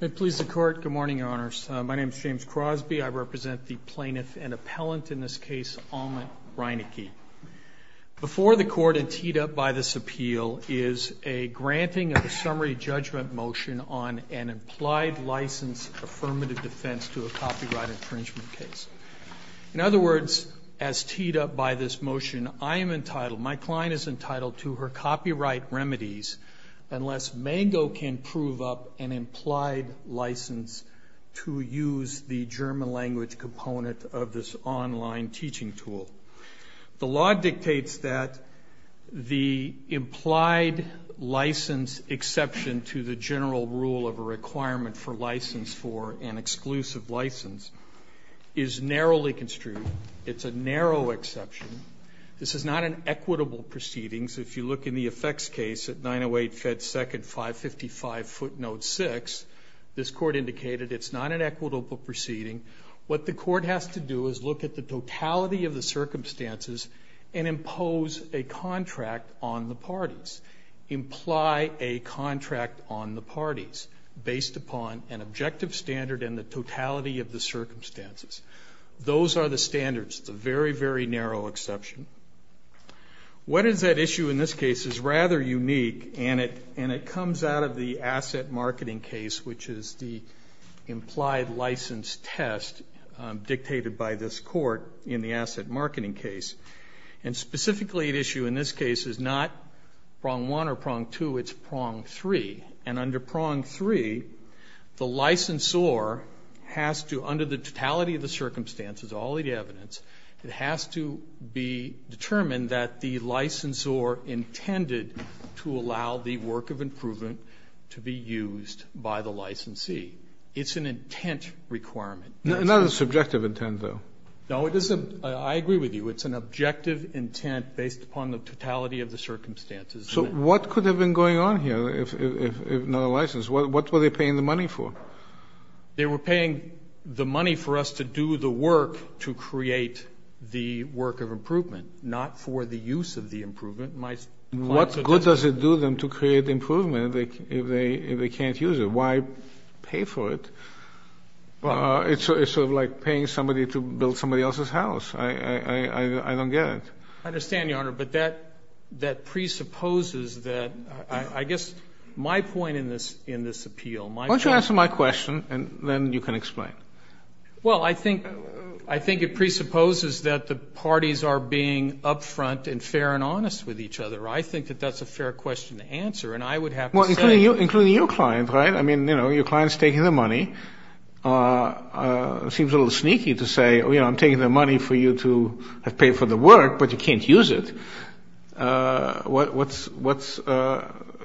Good morning, Your Honors. My name is James Crosby. I represent the plaintiff and appellant in this case, Almut Reinicke. Before the Court and teed up by this appeal is a granting of a summary judgment motion on an implied license affirmative defense to a copyright infringement case. In other words, as teed up by this motion, I am entitled, my client is entitled to her license. Mango can prove up an implied license to use the German language component of this online teaching tool. The law dictates that the implied license exception to the general rule of a requirement for license for an exclusive license is narrowly construed. It's a narrow exception. This is not an equitable proceedings. If you look in the effects case at 908 Fed 2nd, 555 footnote 6, this Court indicated it's not an equitable proceeding. What the Court has to do is look at the totality of the circumstances and impose a contract on the parties, imply a contract on the parties, based upon an objective standard and the totality of the circumstances. Those are the standards. It's a very, very narrow exception. What is at issue in this case is rather unique, and it comes out of the asset marketing case, which is the implied license test dictated by this Court in the asset marketing case. And specifically at issue in this case is not prong 1 or prong 2, it's prong 3. And under prong 3, the licensor has to, under the totality of the circumstances, all of the evidence, it has to be determined that the licensor intended to allow the work of improvement to be used by the licensee. It's an intent requirement. Not a subjective intent, though. No, it is a, I agree with you. It's an objective intent based upon the totality of the circumstances. So what could have been going on here if no license? What were they paying the money for? They were paying the money for us to do the work to create the work of improvement, not for the use of the improvement. What good does it do them to create improvement if they can't use it? Why pay for it? It's sort of like paying somebody to build somebody else's house. I don't get it. I understand, Your Honor, but that presupposes that, I guess, my point in this appeal, my point in this appeal... Why don't you answer my question, and then you can explain. Well, I think it presupposes that the parties are being up front and fair and honest with each other. I think that that's a fair question to answer, and I would have to say... Well, including you, including your client, right? I mean, you know, your client's taking the money. It seems a little sneaky to say, you know, I'm taking the money for you to have paid for the work, but you can't use it. What's...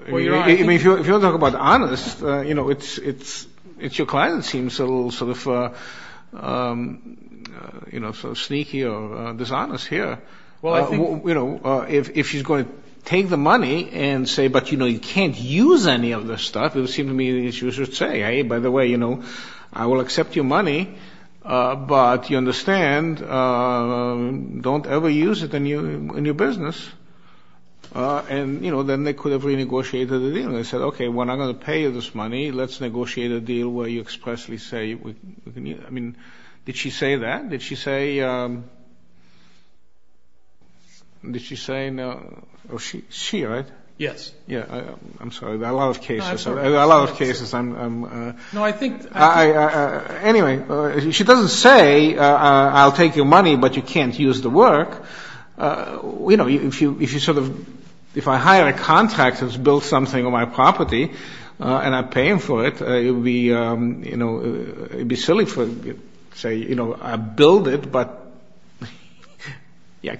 Well, Your Honor, I think... I mean, if you're talking about honest, you know, it's your client that seems a little sort of, you know, sort of sneaky or dishonest here. Well, I think... You know, if she's going to take the money and say, but, you know, you can't use any of this stuff, it would seem to me that you should say, hey, by the way, you know, I will accept your money, but you understand, don't ever use it in your business, and, you know, then they could have renegotiated the deal, and they said, okay, when I'm going to pay you this money, let's negotiate a deal where you expressly say... I mean, did she say that? Did she say... Did she say no? She, right? Yes. Yeah. I'm sorry. There are a lot of cases. There are a lot of cases I'm... No, I think... Anyway, if she doesn't say, I'll take your money, but you can't use the work, you know, if you sort of... If I hire a contractor to build something on my property, and I pay him for it, it would be, you know, it would be silly for, say, you know, I build it, but you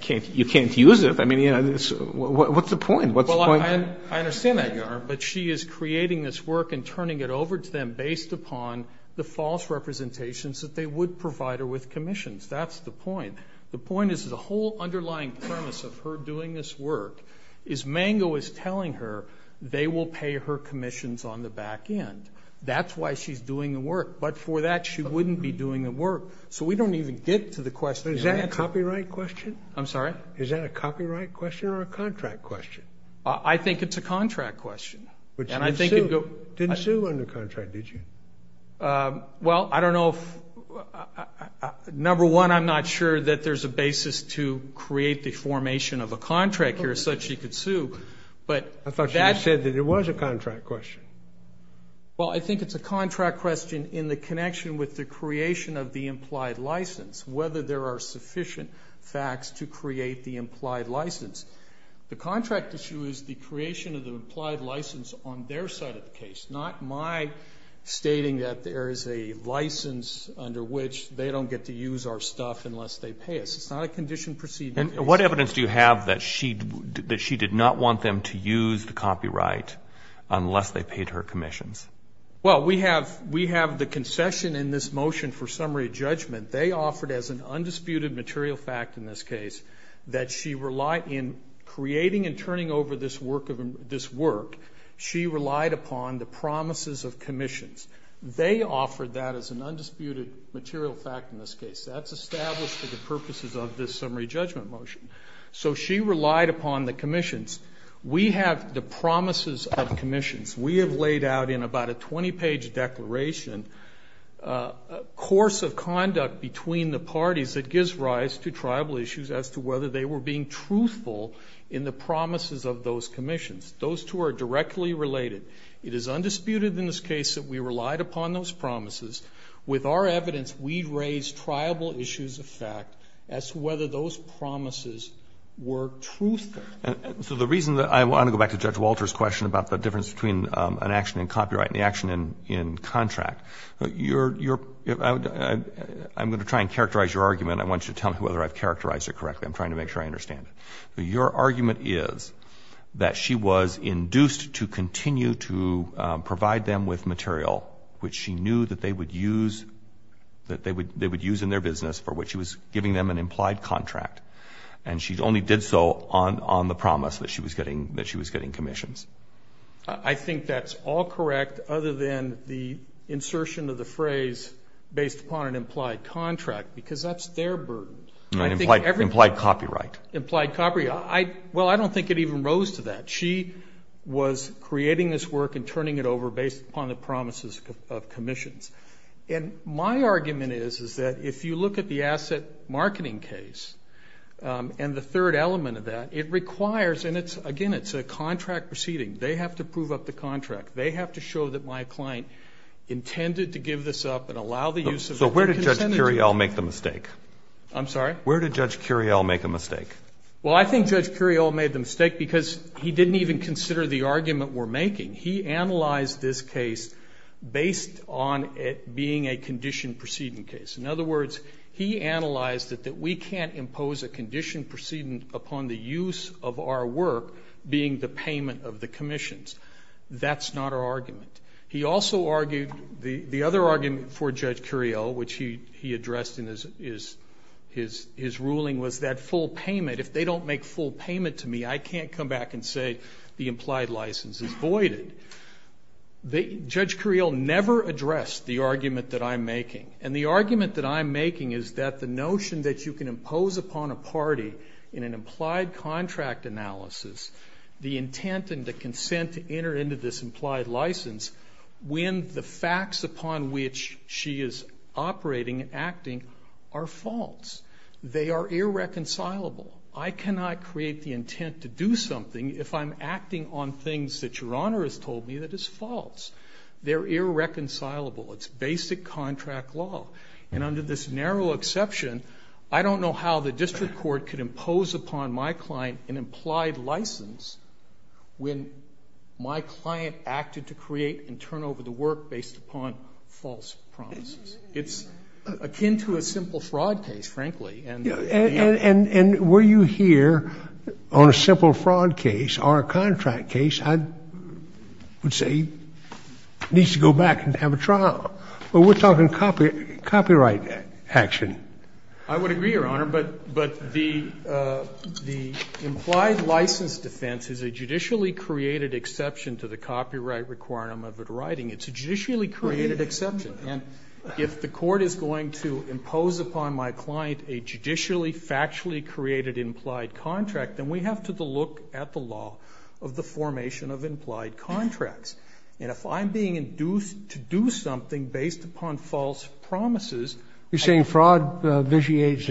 can't use it. I mean, you know, what's the point? What's the point? Well, I understand that, Your Honor, but she is creating this work and turning it over to them based upon the false representations that they would provide her with commissions. That's the point. The point is, the whole underlying premise of her doing this work is Mango is telling her they will pay her commissions on the back end. That's why she's doing the work. But for that, she wouldn't be doing the work. So we don't even get to the question... Is that a copyright question? I'm sorry? Is that a copyright question or a contract question? I think it's a contract question. But you didn't sue under contract, did you? Well, I don't know if... Number one, I'm not sure that there's a basis to create the formation of a contract here such you could sue, but that... I thought you said that it was a contract question. Well, I think it's a contract question in the connection with the creation of the implied license, whether there are sufficient facts to create the implied license. The contract issue is the creation of the implied license on their side of the case, not my stating that there is a license under which they don't get to use our stuff unless they pay us. It's not a condition proceeding. What evidence do you have that she did not want them to use the copyright unless they paid her commissions? Well, we have the concession in this motion for summary judgment. They offered as an undisputed material fact in this case that she relied in creating and turning over this work, she relied upon the promises of commissions. They offered that as an undisputed material fact in this case. That's established for the purposes of this summary judgment motion. So she relied upon the commissions. We have the promises of commissions. We have laid out in about a 20-page declaration a course of conduct between the parties that gives rise to tribal issues as to whether they were being truthful in the promises of those commissions. Those two are directly related. It is undisputed in this case that we relied upon those promises. With our evidence, we raised tribal issues of fact as to whether those promises were truthful. So the reason that I want to go back to Judge Walter's question about the difference between an action in copyright and the action in contract, I'm going to try and characterize your argument. I want you to tell me whether I've characterized it correctly. I'm trying to make sure I understand it. Your argument is that she was induced to continue to provide them with material which she knew that they would use in their business for which she was giving them an implied contract. And she only did so on the promise that she was getting commissions. I think that's all correct other than the insertion of the phrase, based upon an implied contract, because that's their burden. Implied copyright. Implied copyright. Well, I don't think it even rose to that. She was creating this work and turning it over based upon the promises of commissions. And my argument is that if you look at the asset marketing case and the third element of that, it requires, and again it's a contract proceeding. They have to prove up the contract. They have to show that my client intended to give this up and allow the use of the two consented units. So where did Judge Curiel make the mistake? I'm sorry? Where did Judge Curiel make a mistake? Well, I think Judge Curiel made the mistake because he didn't even consider the argument we're making. He analyzed this case based on it being a condition proceeding case. In other words, he analyzed it that we can't impose a condition proceeding upon the use of our work being the payment of the commissions. That's not our argument. He also argued the other argument for Judge Curiel, which he addressed in his ruling, was that full payment. If they don't make full payment to me, I can't come back and say the implied license is voided. Judge Curiel never addressed the argument that I'm making. And the argument that I'm in an implied contract analysis, the intent and the consent to enter into this implied license when the facts upon which she is operating and acting are false. They are irreconcilable. I cannot create the intent to do something if I'm acting on things that Your Honor has told me that is false. They're irreconcilable. It's basic contract law. And under this narrow exception, I don't know how the district court could impose upon my client an implied license when my client acted to create and turn over the work based upon false promises. It's akin to a simple fraud case, frankly. And were you here on a simple fraud case or a contract case, I would say he needs to go back and have a trial. But we're talking copyright action. I would agree, Your Honor. But the implied license defense is a judicially created exception to the copyright requirement of writing. It's a judicially created exception. And if the court is going to impose upon my client a judicially, factually created implied contract, then we have to look at the law of the formation of implied contracts. And if I'm being induced to do something based upon false promises, I can't do that. You're saying fraud vitiates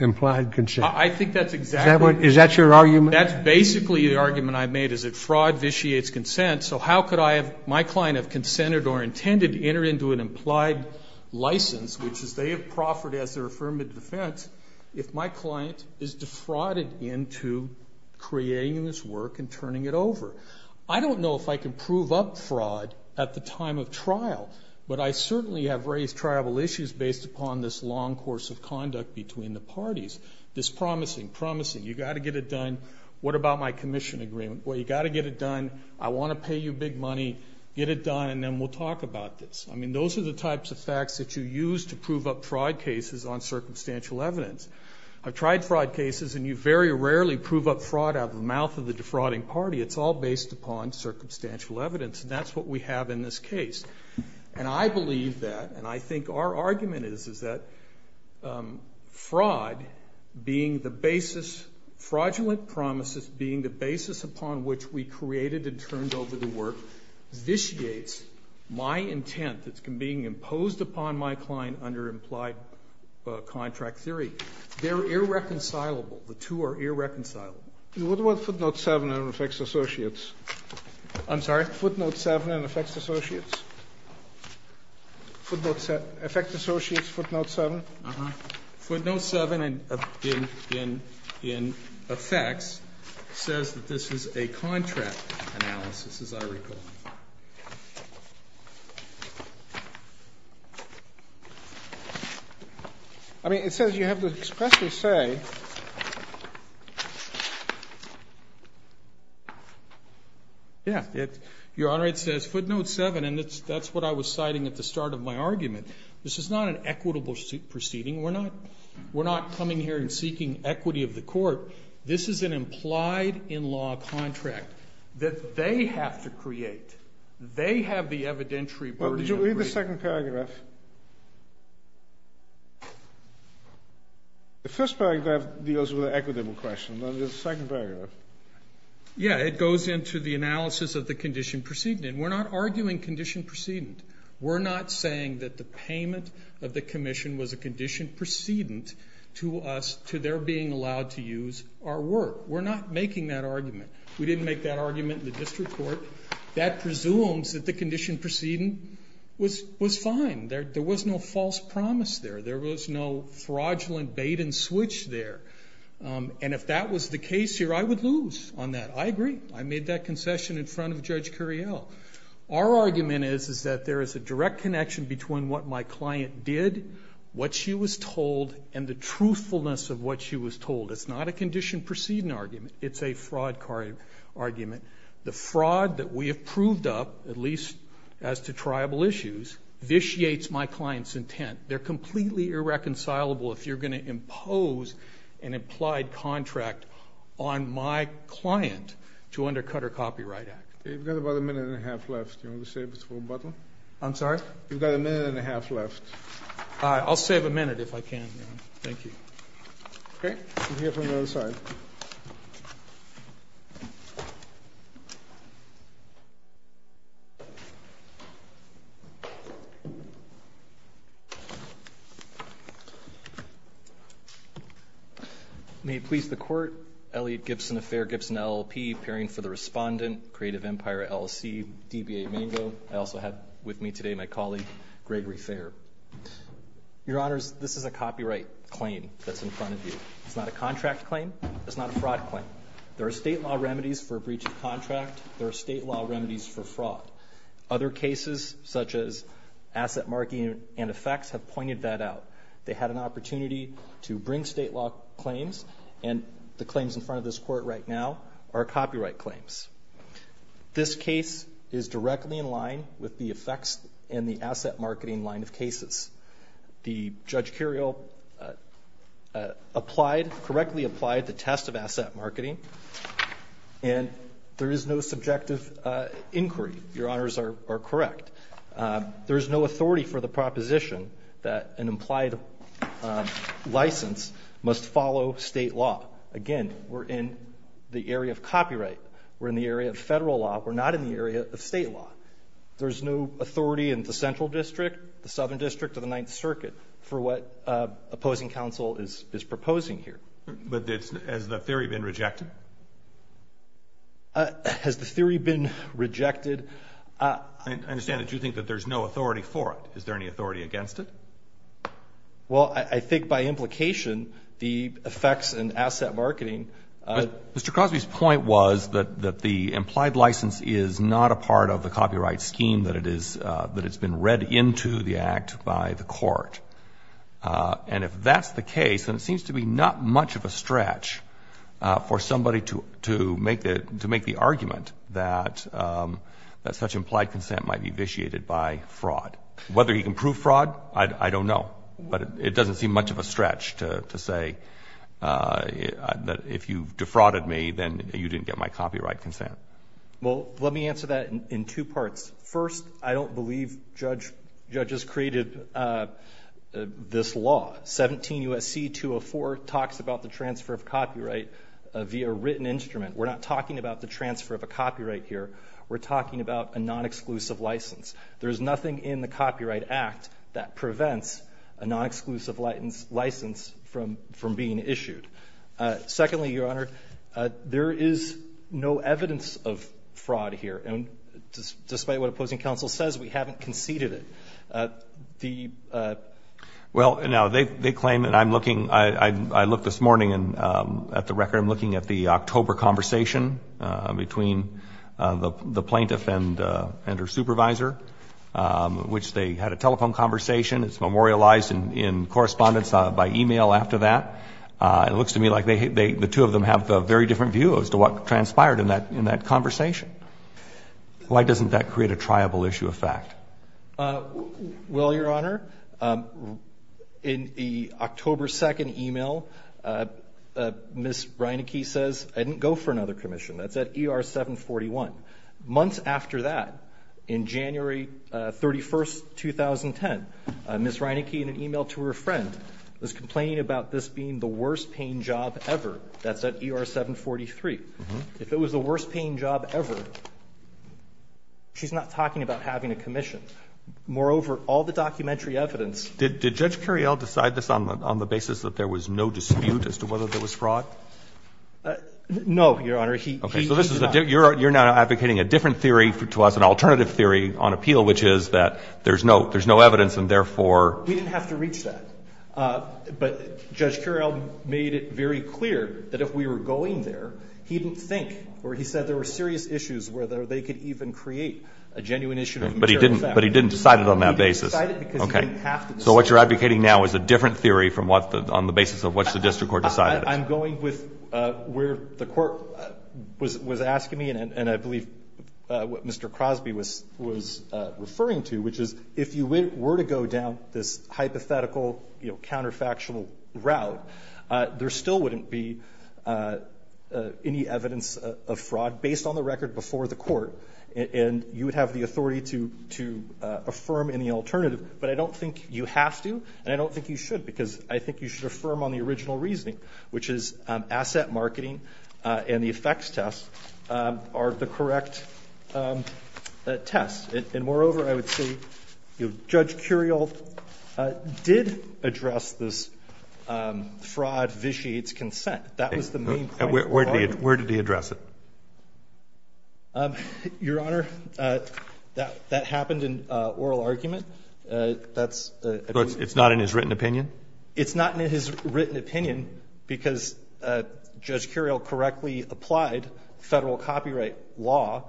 implied consent. I think that's exactly. Is that your argument? That's basically the argument I've made, is that fraud vitiates consent. So how could I have my client have consented or intended to enter into an implied license, which is they have proffered as their affirmative defense, if my client is defrauded into creating this work and turning it over? I don't know if I can prove up fraud at the time of trial, but I certainly have raised triable issues based upon this long course of conduct between the parties. This promising, promising, you've got to get it done. What about my commission agreement? Well, you've got to get it done. I want to pay you big money. Get it done, and then we'll talk about this. I mean, those are the types of facts that you use to prove up fraud cases on circumstantial evidence. I've tried fraud cases, and you very rarely prove up fraud out of the mouth of the defrauding party. It's all based upon circumstantial evidence, and that's what we have in this case. And I believe that, and I think our argument is, is that fraud being the basis, fraudulent promises being the basis upon which we created and turned over the work, vitiates my intent that's being imposed upon my client under implied contract theory. They're irreconcilable. The two are irreconcilable. What about footnote 7 in effects associates? I'm sorry? Footnote 7 in effects associates? Footnote 7, effects associates, footnote 7? Uh-huh. Footnote 7 in effects says that this is a contract analysis, as I recall. I mean, it says you have to expressly say... Yeah. Your Honor, it says footnote 7, and that's what I was citing at the start of my argument. This is not an equitable proceeding. We're not coming here and seeking equity of the court. This is an implied in-law contract that they have to create. They have the evidentiary burden. Did you read the second paragraph? The first paragraph deals with an equitable question. The second paragraph... Yeah, it goes into the analysis of the condition preceding it. We're not arguing condition preceding it. We're not saying that the payment of the commission was a condition preceding it to us, to their being allowed to use our work. We're not making that argument. We didn't make that argument in the district court. That presumes that the condition preceding was fine. There was no false promise there. There was no fraudulent bait-and-switch there. And if that was the case here, I would lose on that. I agree. I made that concession in front of Judge Curiel. Our argument is that there is a direct connection between what my client did, what she was told, and the truthfulness of what she was told. It's not a condition preceding argument. It's a fraud argument. The fraud that we have proved up, at least as to tribal issues, vitiates my client's intent. They're completely irreconcilable if you're going to impose an implied contract on my client to undercut her Copyright Act. You've got about a minute and a half left. Do you want to save it for Butler? I'm sorry? You've got a minute and a half left. I'll save a minute if I can. Thank you. Okay. We'll hear from the other side. May it please the Court, Elliot Gibson of Fair Gibson LLP, appearing for the respondent, Creative Empire LLC, DBA Mango. I also have with me today my colleague, Gregory Fair. Your Honors, this is a copyright claim that's in front of you. It's not a contract claim. It's not a fraud claim. There are state law remedies for fraud. Other cases, such as asset marketing and effects, have pointed that out. They had an opportunity to bring state law claims, and the claims in front of this Court right now are copyright claims. This case is directly in line with the effects and the asset marketing line of cases. The Judge Curiel applied, correctly applied, the test of asset marketing, and there is no subjective inquiry. Your Honors are correct. There is no authority for the proposition that an implied license must follow state law. Again, we're in the area of copyright. We're in the area of federal law. We're not in the area of state law. There's no authority in the Central District, the Southern District, or the Ninth Circuit for what opposing counsel is proposing here. But has the theory been rejected? Has the theory been rejected? I understand that you think that there's no authority for it. Is there any authority against it? Well, I think by implication, the effects and asset marketing Mr. Crosby's point was that the implied license is not a part of the copyright scheme, that it's been read into the Act by the Court. And if that's the case, and it seems to be not much of a stretch for somebody to make the argument that such implied consent might be vitiated by fraud. Whether he can prove fraud, I don't know. But it doesn't seem much of a stretch to say that if you defrauded me, then you didn't get my copyright consent. Well, let me answer that in two parts. First, I don't believe judges created this law. 17 U.S.C. 204 talks about the transfer of copyright via written instrument. We're not talking about the transfer of a copyright here. We're talking about a non-exclusive license. There's nothing in the Copyright Act that prevents a non-exclusive license from being issued. Secondly, Your Honor, there is no evidence of fraud here. And despite what they claim, and I looked this morning at the record, I'm looking at the October conversation between the plaintiff and her supervisor, which they had a telephone conversation. It's memorialized in correspondence by e-mail after that. It looks to me like the two of them have a very different view as to what transpired in that conversation. Why doesn't that create a triable issue of fact? Well, Your Honor, in the October 2nd e-mail, Ms. Reineke says, I didn't go for another commission. That's at ER 741. Months after that, in January 31st, 2010, Ms. Reineke in an e-mail to her friend was complaining about this being the worst paying job ever. That's at ER 743. If it was the worst paying job ever, she's not talking about having a commission. Moreover, all the documentary evidence Did Judge Curiel decide this on the basis that there was no dispute as to whether there was fraud? No, Your Honor. Okay. So you're now advocating a different theory to us, an alternative theory on appeal, which is that there's no evidence and therefore We didn't have to reach that. But Judge Curiel made it very clear that if we were going there, he didn't think or he said there were serious issues where they could even create a genuine issue. But he didn't decide it on that basis. He didn't decide it because he didn't have to decide it. So what you're advocating now is a different theory on the basis of what the district court decided. I'm going with where the court was asking me and I believe what Mr. Crosby was referring to, which is if you were to go down this hypothetical, counterfactual route, there still wouldn't be any evidence of fraud based on the record before the court and you would have the authority to affirm any alternative. But I don't think you have to and I don't think you should because I think you should affirm on the original reasoning, which is asset marketing and the effects test are the correct test. And moreover, I would say Judge Curiel did address this fraud vitiates consent. That was the main point. Where did he address it? Your Honor, that happened in oral argument. But it's not in his written opinion? It's not in his written opinion because Judge Curiel correctly applied federal copyright law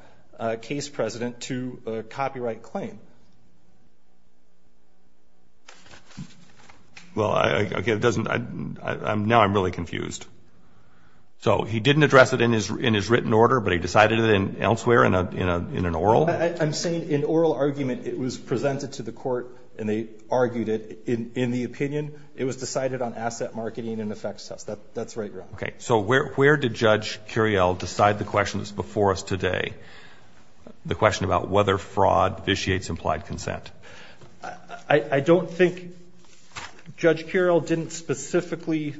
case precedent to a copyright claim. Well, now I'm really confused. So he didn't address it in his written order but he decided it elsewhere in an oral? I'm saying in oral argument it was presented to the court and they argued it in the opinion. It was decided on asset marketing and effects test. That's right, Your Honor. Okay. So where did Judge Curiel decide the questions before us today? The question about whether fraud vitiates implied consent. I don't think Judge Curiel didn't specifically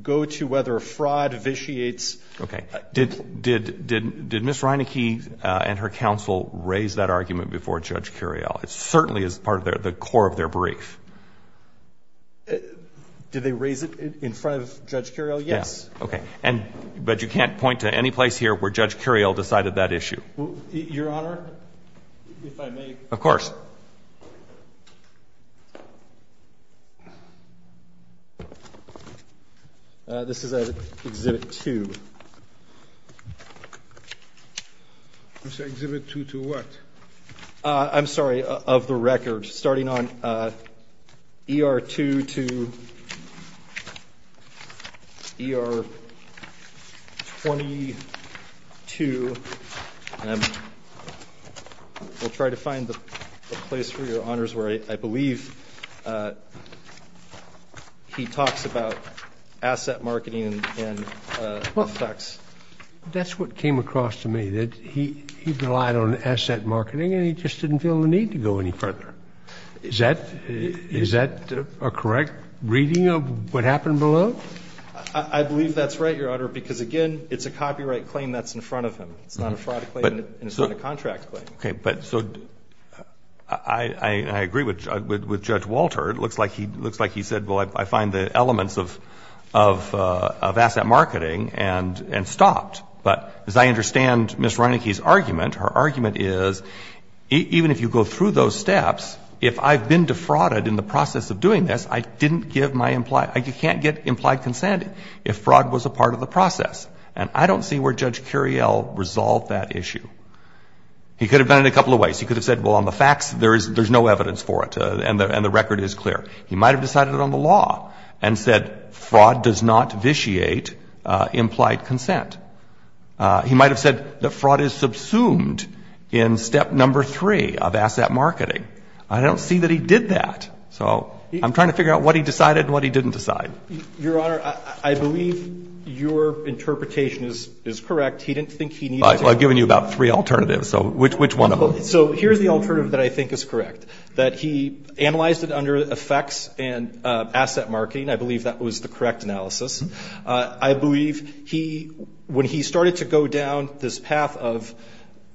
go to whether fraud vitiates. Okay. Did Ms. Reineke and her counsel raise that argument before Judge Curiel? It certainly is part of the core of their brief. Did they raise it in front of Judge Curiel? Yes. Okay. But you can't point to any place here where Judge Curiel decided that issue? Your Honor, if I may. Of course. This is at Exhibit 2. Exhibit 2 to what? I'm sorry, of the record. Starting on ER 2 to ER 22. We'll try to find a place for Your Honors where I believe he talks about asset marketing and effects. That's what came across to me, that he relied on asset marketing and he just didn't feel the need to go any further. Is that a correct reading of what happened below? I believe that's right, Your Honor, because, again, it's a copyright claim that's in front of him. It's not a fraud claim and it's not a contract claim. Okay. But so I agree with Judge Walter. It looks like he said, well, I find the elements of asset marketing and stopped. But as I understand Ms. Reineke's argument, her argument is even if you go through those steps, if I've been defrauded in the process of doing this, I didn't give my implied – I can't get implied consent if fraud was a part of the process. And I don't see where Judge Curiel resolved that issue. He could have done it a couple of ways. He could have said, well, on the facts there's no evidence for it and the record is clear. He might have decided on the law and said fraud does not vitiate implied consent. He might have said that fraud is subsumed in step number three of asset marketing. I don't see that he did that. So I'm trying to figure out what he decided and what he didn't decide. Your Honor, I believe your interpretation is correct. He didn't think he needed to. I've given you about three alternatives. So which one of them? So here's the alternative that I think is correct, that he analyzed it under effects and asset marketing. I believe that was the correct analysis. I believe he – when he started to go down this path of,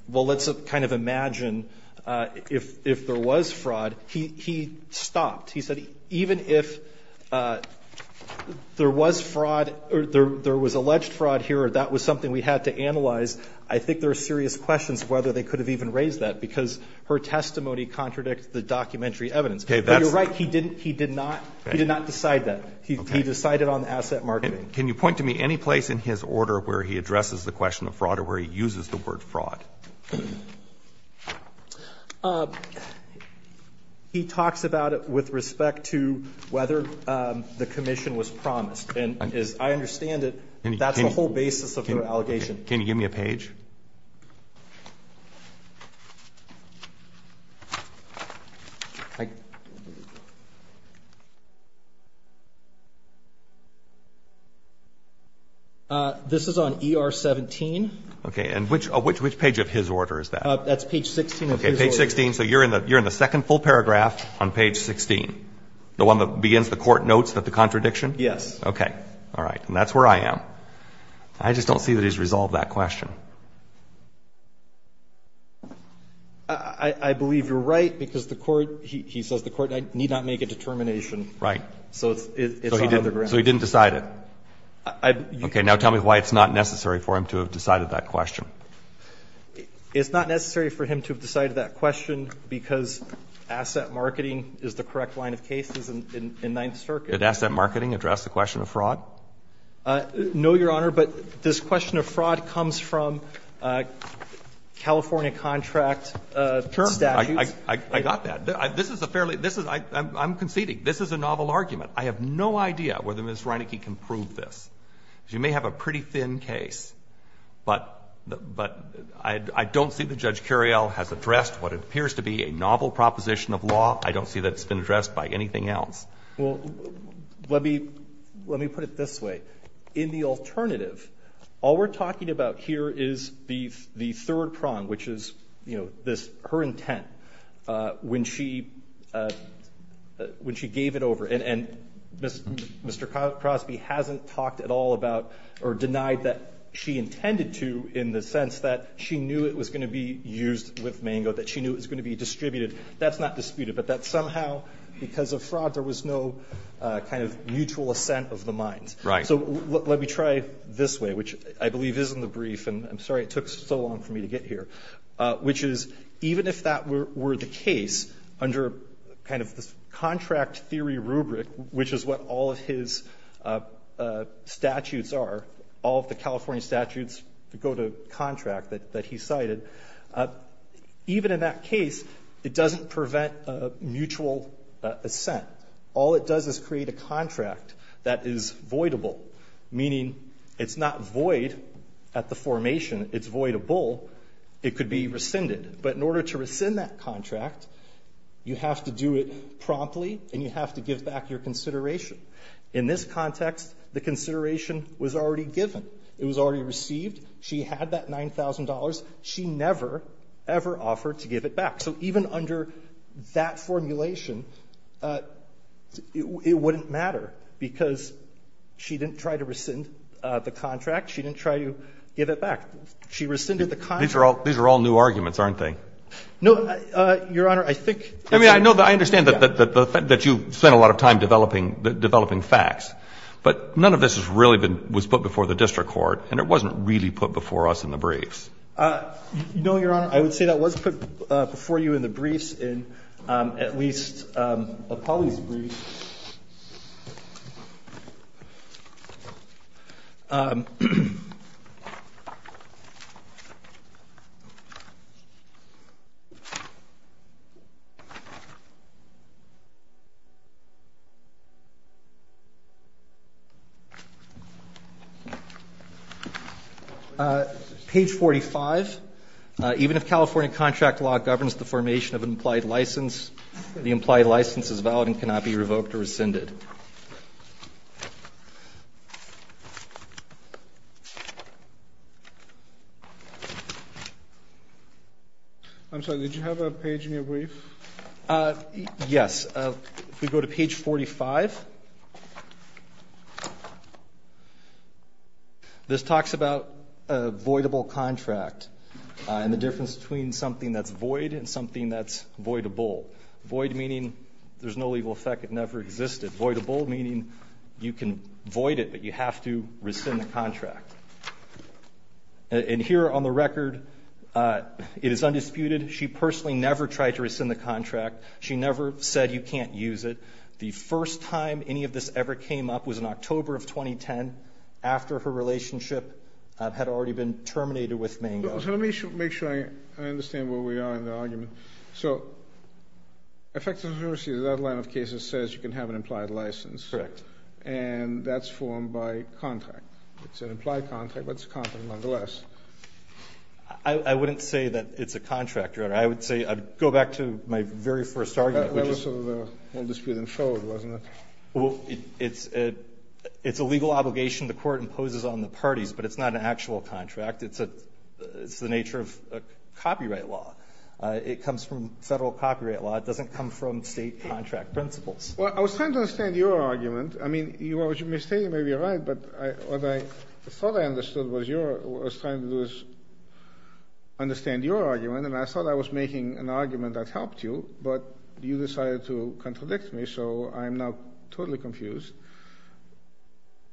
well, let's kind of imagine if there was fraud, he stopped. He said even if there was fraud or there was alleged fraud here or that was something we had to analyze, I think there are serious questions whether they could have even raised that because her testimony contradicts the documentary evidence. But you're right. He did not decide that. He decided on asset marketing. Can you point to me any place in his order where he addresses the question of fraud or where he uses the word fraud? He talks about it with respect to whether the commission was promised. And as I understand it, that's the whole basis of the allegation. Can you give me a page? This is on ER 17. Okay. And which page of his order is that? That's page 16 of his order. Okay, page 16. So you're in the second full paragraph on page 16, the one that begins the court notes that the contradiction? Yes. Okay. All right. And that's where I am. I just don't see that he's resolved that question. I believe you're right because the court – he says the court need not make a determination. Right. So it's on other ground. So he didn't decide it. Okay. Now tell me why it's not necessary for him to have decided that question. It's not necessary for him to have decided that question because asset marketing is the correct line of cases in Ninth Circuit. Did asset marketing address the question of fraud? No, Your Honor, but this question of fraud comes from California contract statutes. I got that. This is a fairly – I'm conceding. This is a novel argument. I have no idea whether Ms. Reineke can prove this. She may have a pretty thin case, but I don't see that Judge Curiel has addressed what appears to be a novel proposition of law. I don't see that it's been addressed by anything else. Well, let me put it this way. In the alternative, all we're talking about here is the third prong, which is, you know, her intent when she gave it over. And Mr. Crosby hasn't talked at all about or denied that she intended to in the sense that she knew it was going to be used with Mango, that she knew it was going to be distributed. That's not disputed, but that somehow, because of fraud, there was no kind of mutual assent of the minds. Right. So let me try it this way, which I believe is in the brief, and I'm sorry it took so long for me to get here, which is even if that were the case under kind of this contract theory rubric, which is what all of his statutes are, all of the California statutes go to contract that he cited, even in that case, it doesn't prevent mutual assent. All it does is create a contract that is voidable, meaning it's not void at the formation. It's voidable. It could be rescinded. But in order to rescind that contract, you have to do it promptly, and you have to give back your consideration. In this context, the consideration was already given. It was already received. She had that $9,000. She never, ever offered to give it back. So even under that formulation, it wouldn't matter because she didn't try to rescind the contract. She didn't try to give it back. She rescinded the contract. These are all new arguments, aren't they? No, Your Honor. I think that's it. I mean, I know that I understand that you've spent a lot of time developing facts, but none of this has really been – was put before the district court, and it wasn't really put before us in the briefs. No, Your Honor. I would say that was put before you in the briefs in at least Apolli's brief. Thank you. Page 45, even if California contract law governs the formation of an implied license, the implied license is valid and cannot be revoked or rescinded. I'm sorry. Did you have a page in your brief? Yes. If we go to page 45, this talks about a voidable contract and the difference between something that's void and something that's voidable. Void meaning there's no legal effect. It never existed. Voidable meaning you can void it, but you have to rescind the contract. And here on the record, it is undisputed. She personally never tried to rescind the contract. She never said you can't use it. The first time any of this ever came up was in October of 2010, after her relationship had already been terminated with Mango. So let me make sure I understand where we are in the argument. So, effective emergency, that line of cases says you can have an implied license. Correct. And that's formed by contract. It's an implied contract, but it's a contract nonetheless. I wouldn't say that it's a contract, Your Honor. I would say I'd go back to my very first argument. That was sort of the whole dispute unfold, wasn't it? Well, it's a legal obligation the court imposes on the parties, but it's not an actual contract. It's the nature of copyright law. It comes from federal copyright law. It doesn't come from state contract principles. Well, I was trying to understand your argument. I mean, what you may say may be right, but what I thought I understood was trying to understand your argument, and I thought I was making an argument that helped you, but you decided to contradict me, so I'm now totally confused.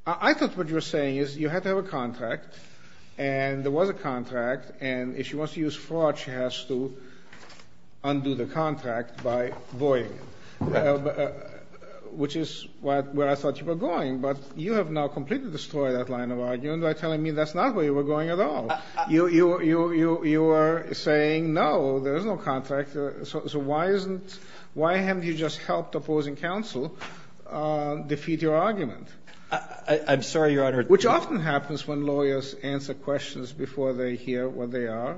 I thought what you were saying is you had to have a contract, and there was a contract, and if she wants to use fraud she has to undo the contract by voiding it, which is where I thought you were going. But you have now completely destroyed that line of argument by telling me that's not where you were going at all. You were saying, no, there is no contract, so why haven't you just helped opposing counsel defeat your argument? I'm sorry, Your Honor. Which often happens when lawyers answer questions before they hear what they are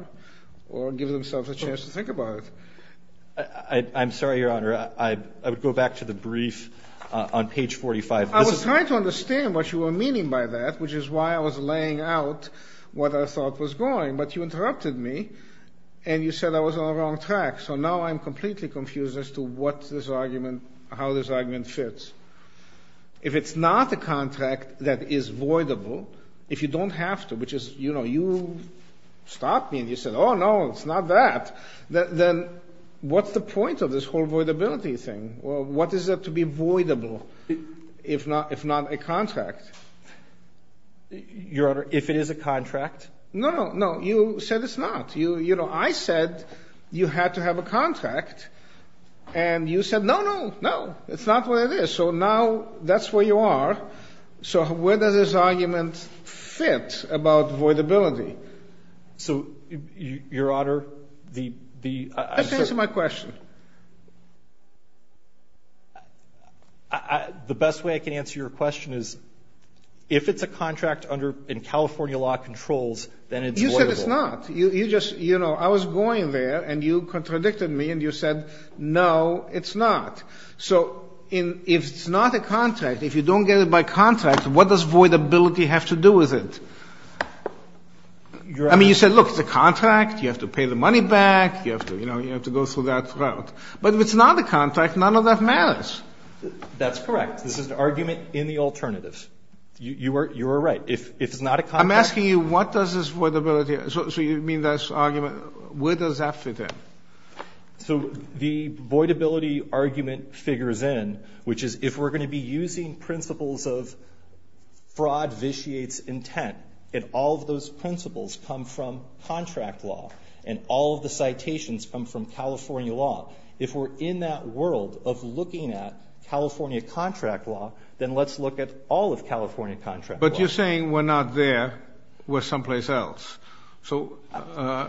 or give themselves a chance to think about it. I'm sorry, Your Honor. I would go back to the brief on page 45. I was trying to understand what you were meaning by that, which is why I was laying out what I thought was going, but you interrupted me and you said I was on the wrong track, so now I'm completely confused as to what this argument, how this argument fits. If it's not a contract that is voidable, if you don't have to, which is, you know, you stopped me and you said, oh, no, it's not that, then what's the point of this whole voidability thing? What is there to be voidable if not a contract? Your Honor, if it is a contract? No, no, no, you said it's not. You know, I said you had to have a contract, and you said no, no, no, it's not what it is, so now that's where you are, so where does this argument fit about voidability? So, Your Honor, the ‑‑ Just answer my question. The best way I can answer your question is if it's a contract under California law controls, then it's voidable. You said it's not. You just, you know, I was going there and you contradicted me and you said no, it's not. So if it's not a contract, if you don't get it by contract, what does voidability have to do with it? I mean, you said, look, it's a contract, you have to pay the money back, you have to, you know, you have to go through that route. But if it's not a contract, none of that matters. That's correct. This is an argument in the alternatives. You are right. If it's not a contract ‑‑ I'm asking you what does this voidability ‑‑ so you mean this argument, where does that fit in? So the voidability argument figures in, which is if we're going to be using principles of fraud vitiates intent, and all of those principles come from contract law, and all of the citations come from California law, if we're in that world of looking at California contract law, then let's look at all of California contract law. But you're saying we're not there, we're someplace else. So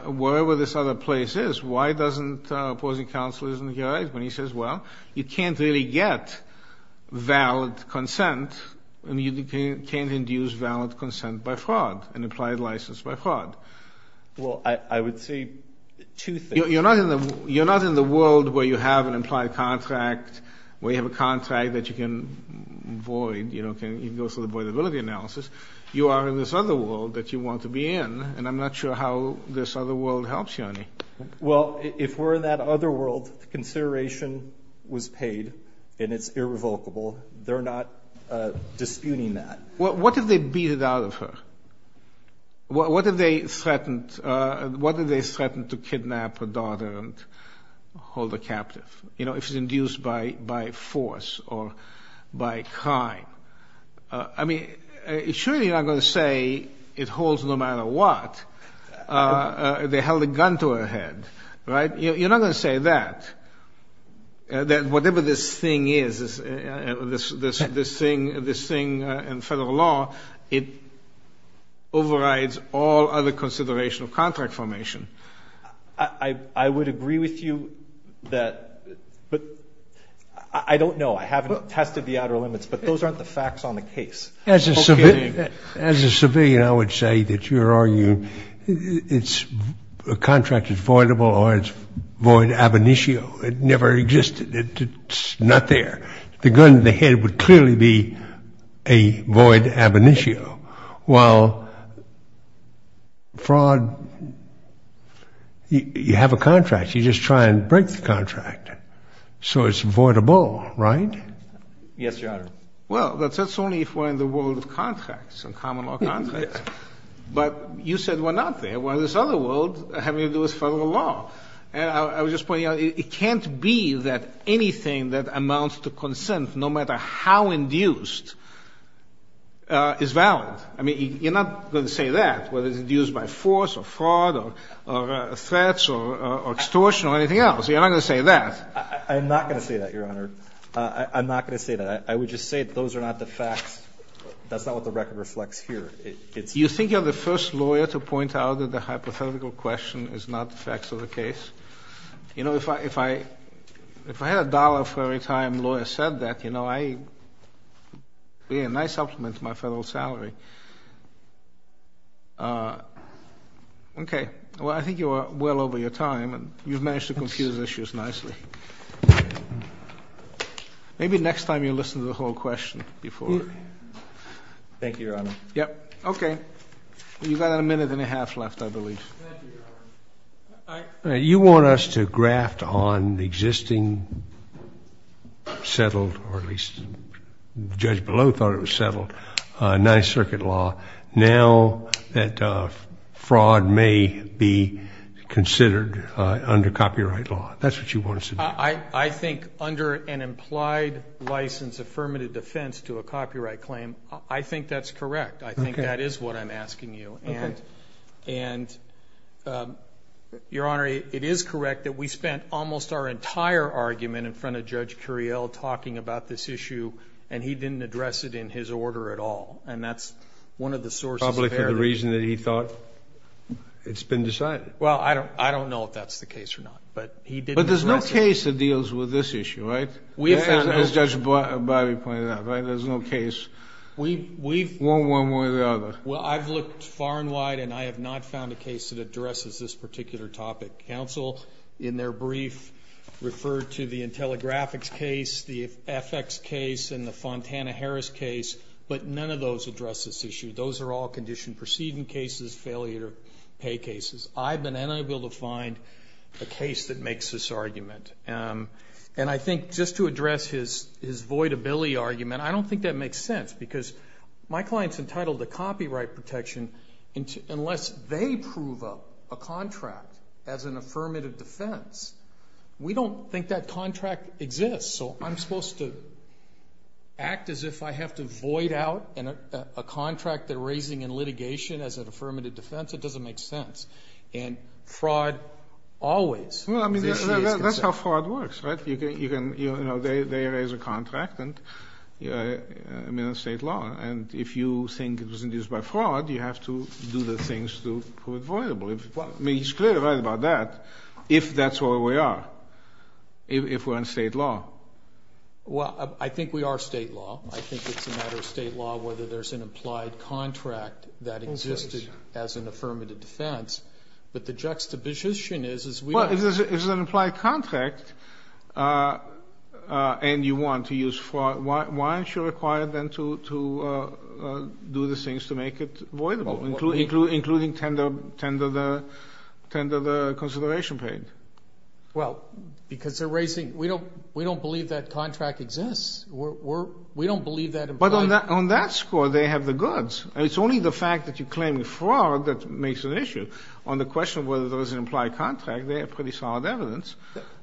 wherever this other place is, why doesn't opposing counsel, isn't he right, when he says, well, you can't really get valid consent, and you can't induce valid consent by fraud and applied license by fraud? Well, I would say two things. You're not in the world where you have an implied contract, where you have a contract that you can void, you can go through the voidability analysis. You are in this other world that you want to be in, and I'm not sure how this other world helps you. Well, if we're in that other world, consideration was paid, and it's irrevocable, they're not disputing that. What if they beat it out of her? What if they threatened to kidnap her daughter and hold her captive? You know, if it's induced by force or by crime. I mean, surely you're not going to say it holds no matter what. They held a gun to her head, right? You're not going to say that. Whatever this thing is, this thing in federal law, it overrides all other consideration of contract formation. I would agree with you that, but I don't know. I haven't tested the outer limits, but those aren't the facts on the case. As a civilian, I would say that you're arguing a contract is voidable or it's void ab initio. It never existed. It's not there. The gun to the head would clearly be a void ab initio, while fraud, you have a contract. You just try and break the contract. So it's voidable, right? Yes, Your Honor. Well, that's only if we're in the world of contracts and common law contracts, but you said we're not there. Why is this other world having to do with federal law? I was just pointing out, it can't be that anything that amounts to consent, no matter how induced, is valid. I mean, you're not going to say that, whether it's induced by force or fraud or threats or extortion or anything else. You're not going to say that. I'm not going to say that, Your Honor. I'm not going to say that. I would just say those are not the facts. That's not what the record reflects here. You think you're the first lawyer to point out that the hypothetical question is not the facts of the case? You know, if I had a dollar for every time a lawyer said that, you know, I'd be a nice supplement to my federal salary. Okay. Well, I think you are well over your time, and you've managed to confuse issues nicely. Maybe next time you listen to the whole question before. Thank you, Your Honor. Yep. Okay. You've got a minute and a half left, I believe. Thank you, Your Honor. All right. You want us to graft on the existing settled, or at least the judge below thought it was settled, Ninth Circuit law, now that fraud may be considered under copyright law. That's what you want us to do. I think under an implied license affirmative defense to a copyright claim, I think that's correct. I think that is what I'm asking you. And, Your Honor, it is correct that we spent almost our entire argument in front of Judge Curiel talking about this issue, and he didn't address it in his order at all, and that's one of the sources of evidence. Probably for the reason that he thought it's been decided. Well, I don't know if that's the case or not, but he did address it. But there's no case that deals with this issue, right? As Judge Bobby pointed out, right? There's no case one way or the other. Well, I've looked far and wide, and I have not found a case that addresses this particular topic. Counsel, in their brief, referred to the Intelligraphics case, the FX case, and the Fontana-Harris case, but none of those address this issue. Those are all condition proceeding cases, failure to pay cases. I've been unable to find a case that makes this argument. And I think just to address his voidability argument, I don't think that makes sense, because my client's entitled to copyright protection unless they prove a contract as an affirmative defense. We don't think that contract exists, so I'm supposed to act as if I have to void out a contract they're raising in litigation as an affirmative defense? It doesn't make sense. And fraud always is the case. Well, I mean, that's how fraud works, right? You can, you know, they raise a contract, and I mean, it's State law. And if you think it was induced by fraud, you have to do the things to prove it voidable. I mean, he's clearly right about that, if that's where we are, if we're in State law. Well, I think we are State law. I think it's a matter of State law whether there's an implied contract that existed as an affirmative defense. But the juxtaposition is, is we don't have to. Well, if there's an implied contract and you want to use fraud, why aren't you required then to do the things to make it voidable, including tender the consideration paid? Well, because they're raising we don't believe that contract exists. We don't believe that implied contract exists. But on that score, they have the goods. It's only the fact that you're claiming fraud that makes an issue. On the question of whether there's an implied contract, they have pretty solid evidence.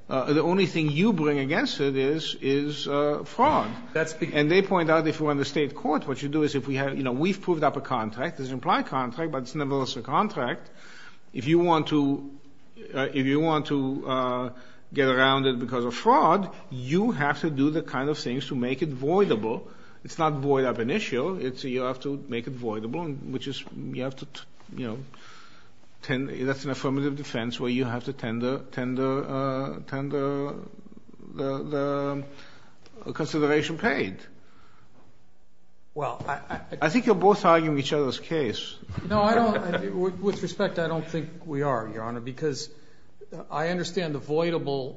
The only thing you bring against it is fraud. And they point out if you're in the State court, what you do is if we have, you know, we've proved up a contract, there's an implied contract, but it's nevertheless a contract. If you want to get around it because of fraud, you have to do the kind of things to make it voidable. It's not void up an issue. You have to make it voidable, which is you have to, you know, that's an affirmative defense where you have to tender the consideration paid. Well, I think you're both arguing each other's case. No, I don't. With respect, I don't think we are, Your Honor, because I understand the voidable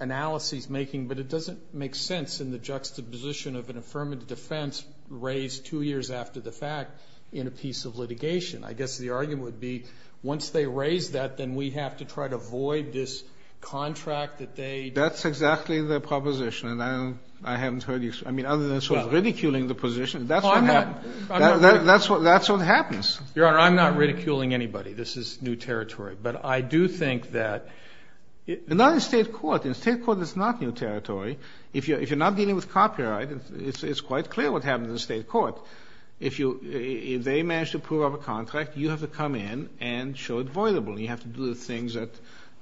analysis making, but it doesn't make sense in the juxtaposition of an affirmative defense raised two years after the fact in a piece of litigation. I guess the argument would be once they raise that, then we have to try to void this contract that they did. That's exactly the proposition, and I haven't heard you. I mean, other than sort of ridiculing the position, that's what happens. That's what happens. Your Honor, I'm not ridiculing anybody. This is new territory. But I do think that, and not in State court. In State court, it's not new territory. If you're not dealing with copyright, it's quite clear what happens in State court. If they manage to prove a contract, you have to come in and show it voidable. You have to do the things that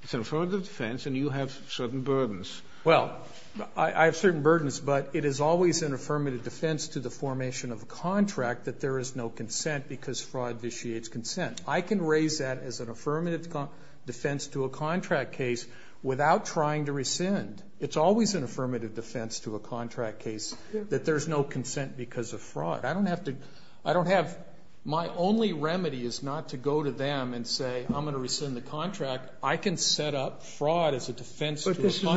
it's an affirmative defense, and you have certain burdens. Well, I have certain burdens, but it is always an affirmative defense to the formation of a contract that there is no consent because fraud vitiates consent. I can raise that as an affirmative defense to a contract case without trying to rescind. It's always an affirmative defense to a contract case that there's no consent because of fraud. I don't have to, I don't have, my only remedy is not to go to them and say I'm going to rescind the contract. This is a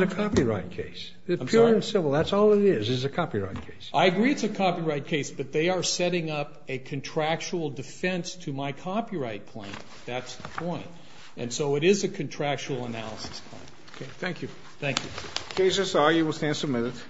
copyright case. I'm sorry. Pure and civil, that's all it is. This is a copyright case. I agree it's a copyright case, but they are setting up a contractual defense to my copyright claim. That's the point. And so it is a contractual analysis claim. Okay, thank you. Thank you. The case is argued. We'll stand some minutes.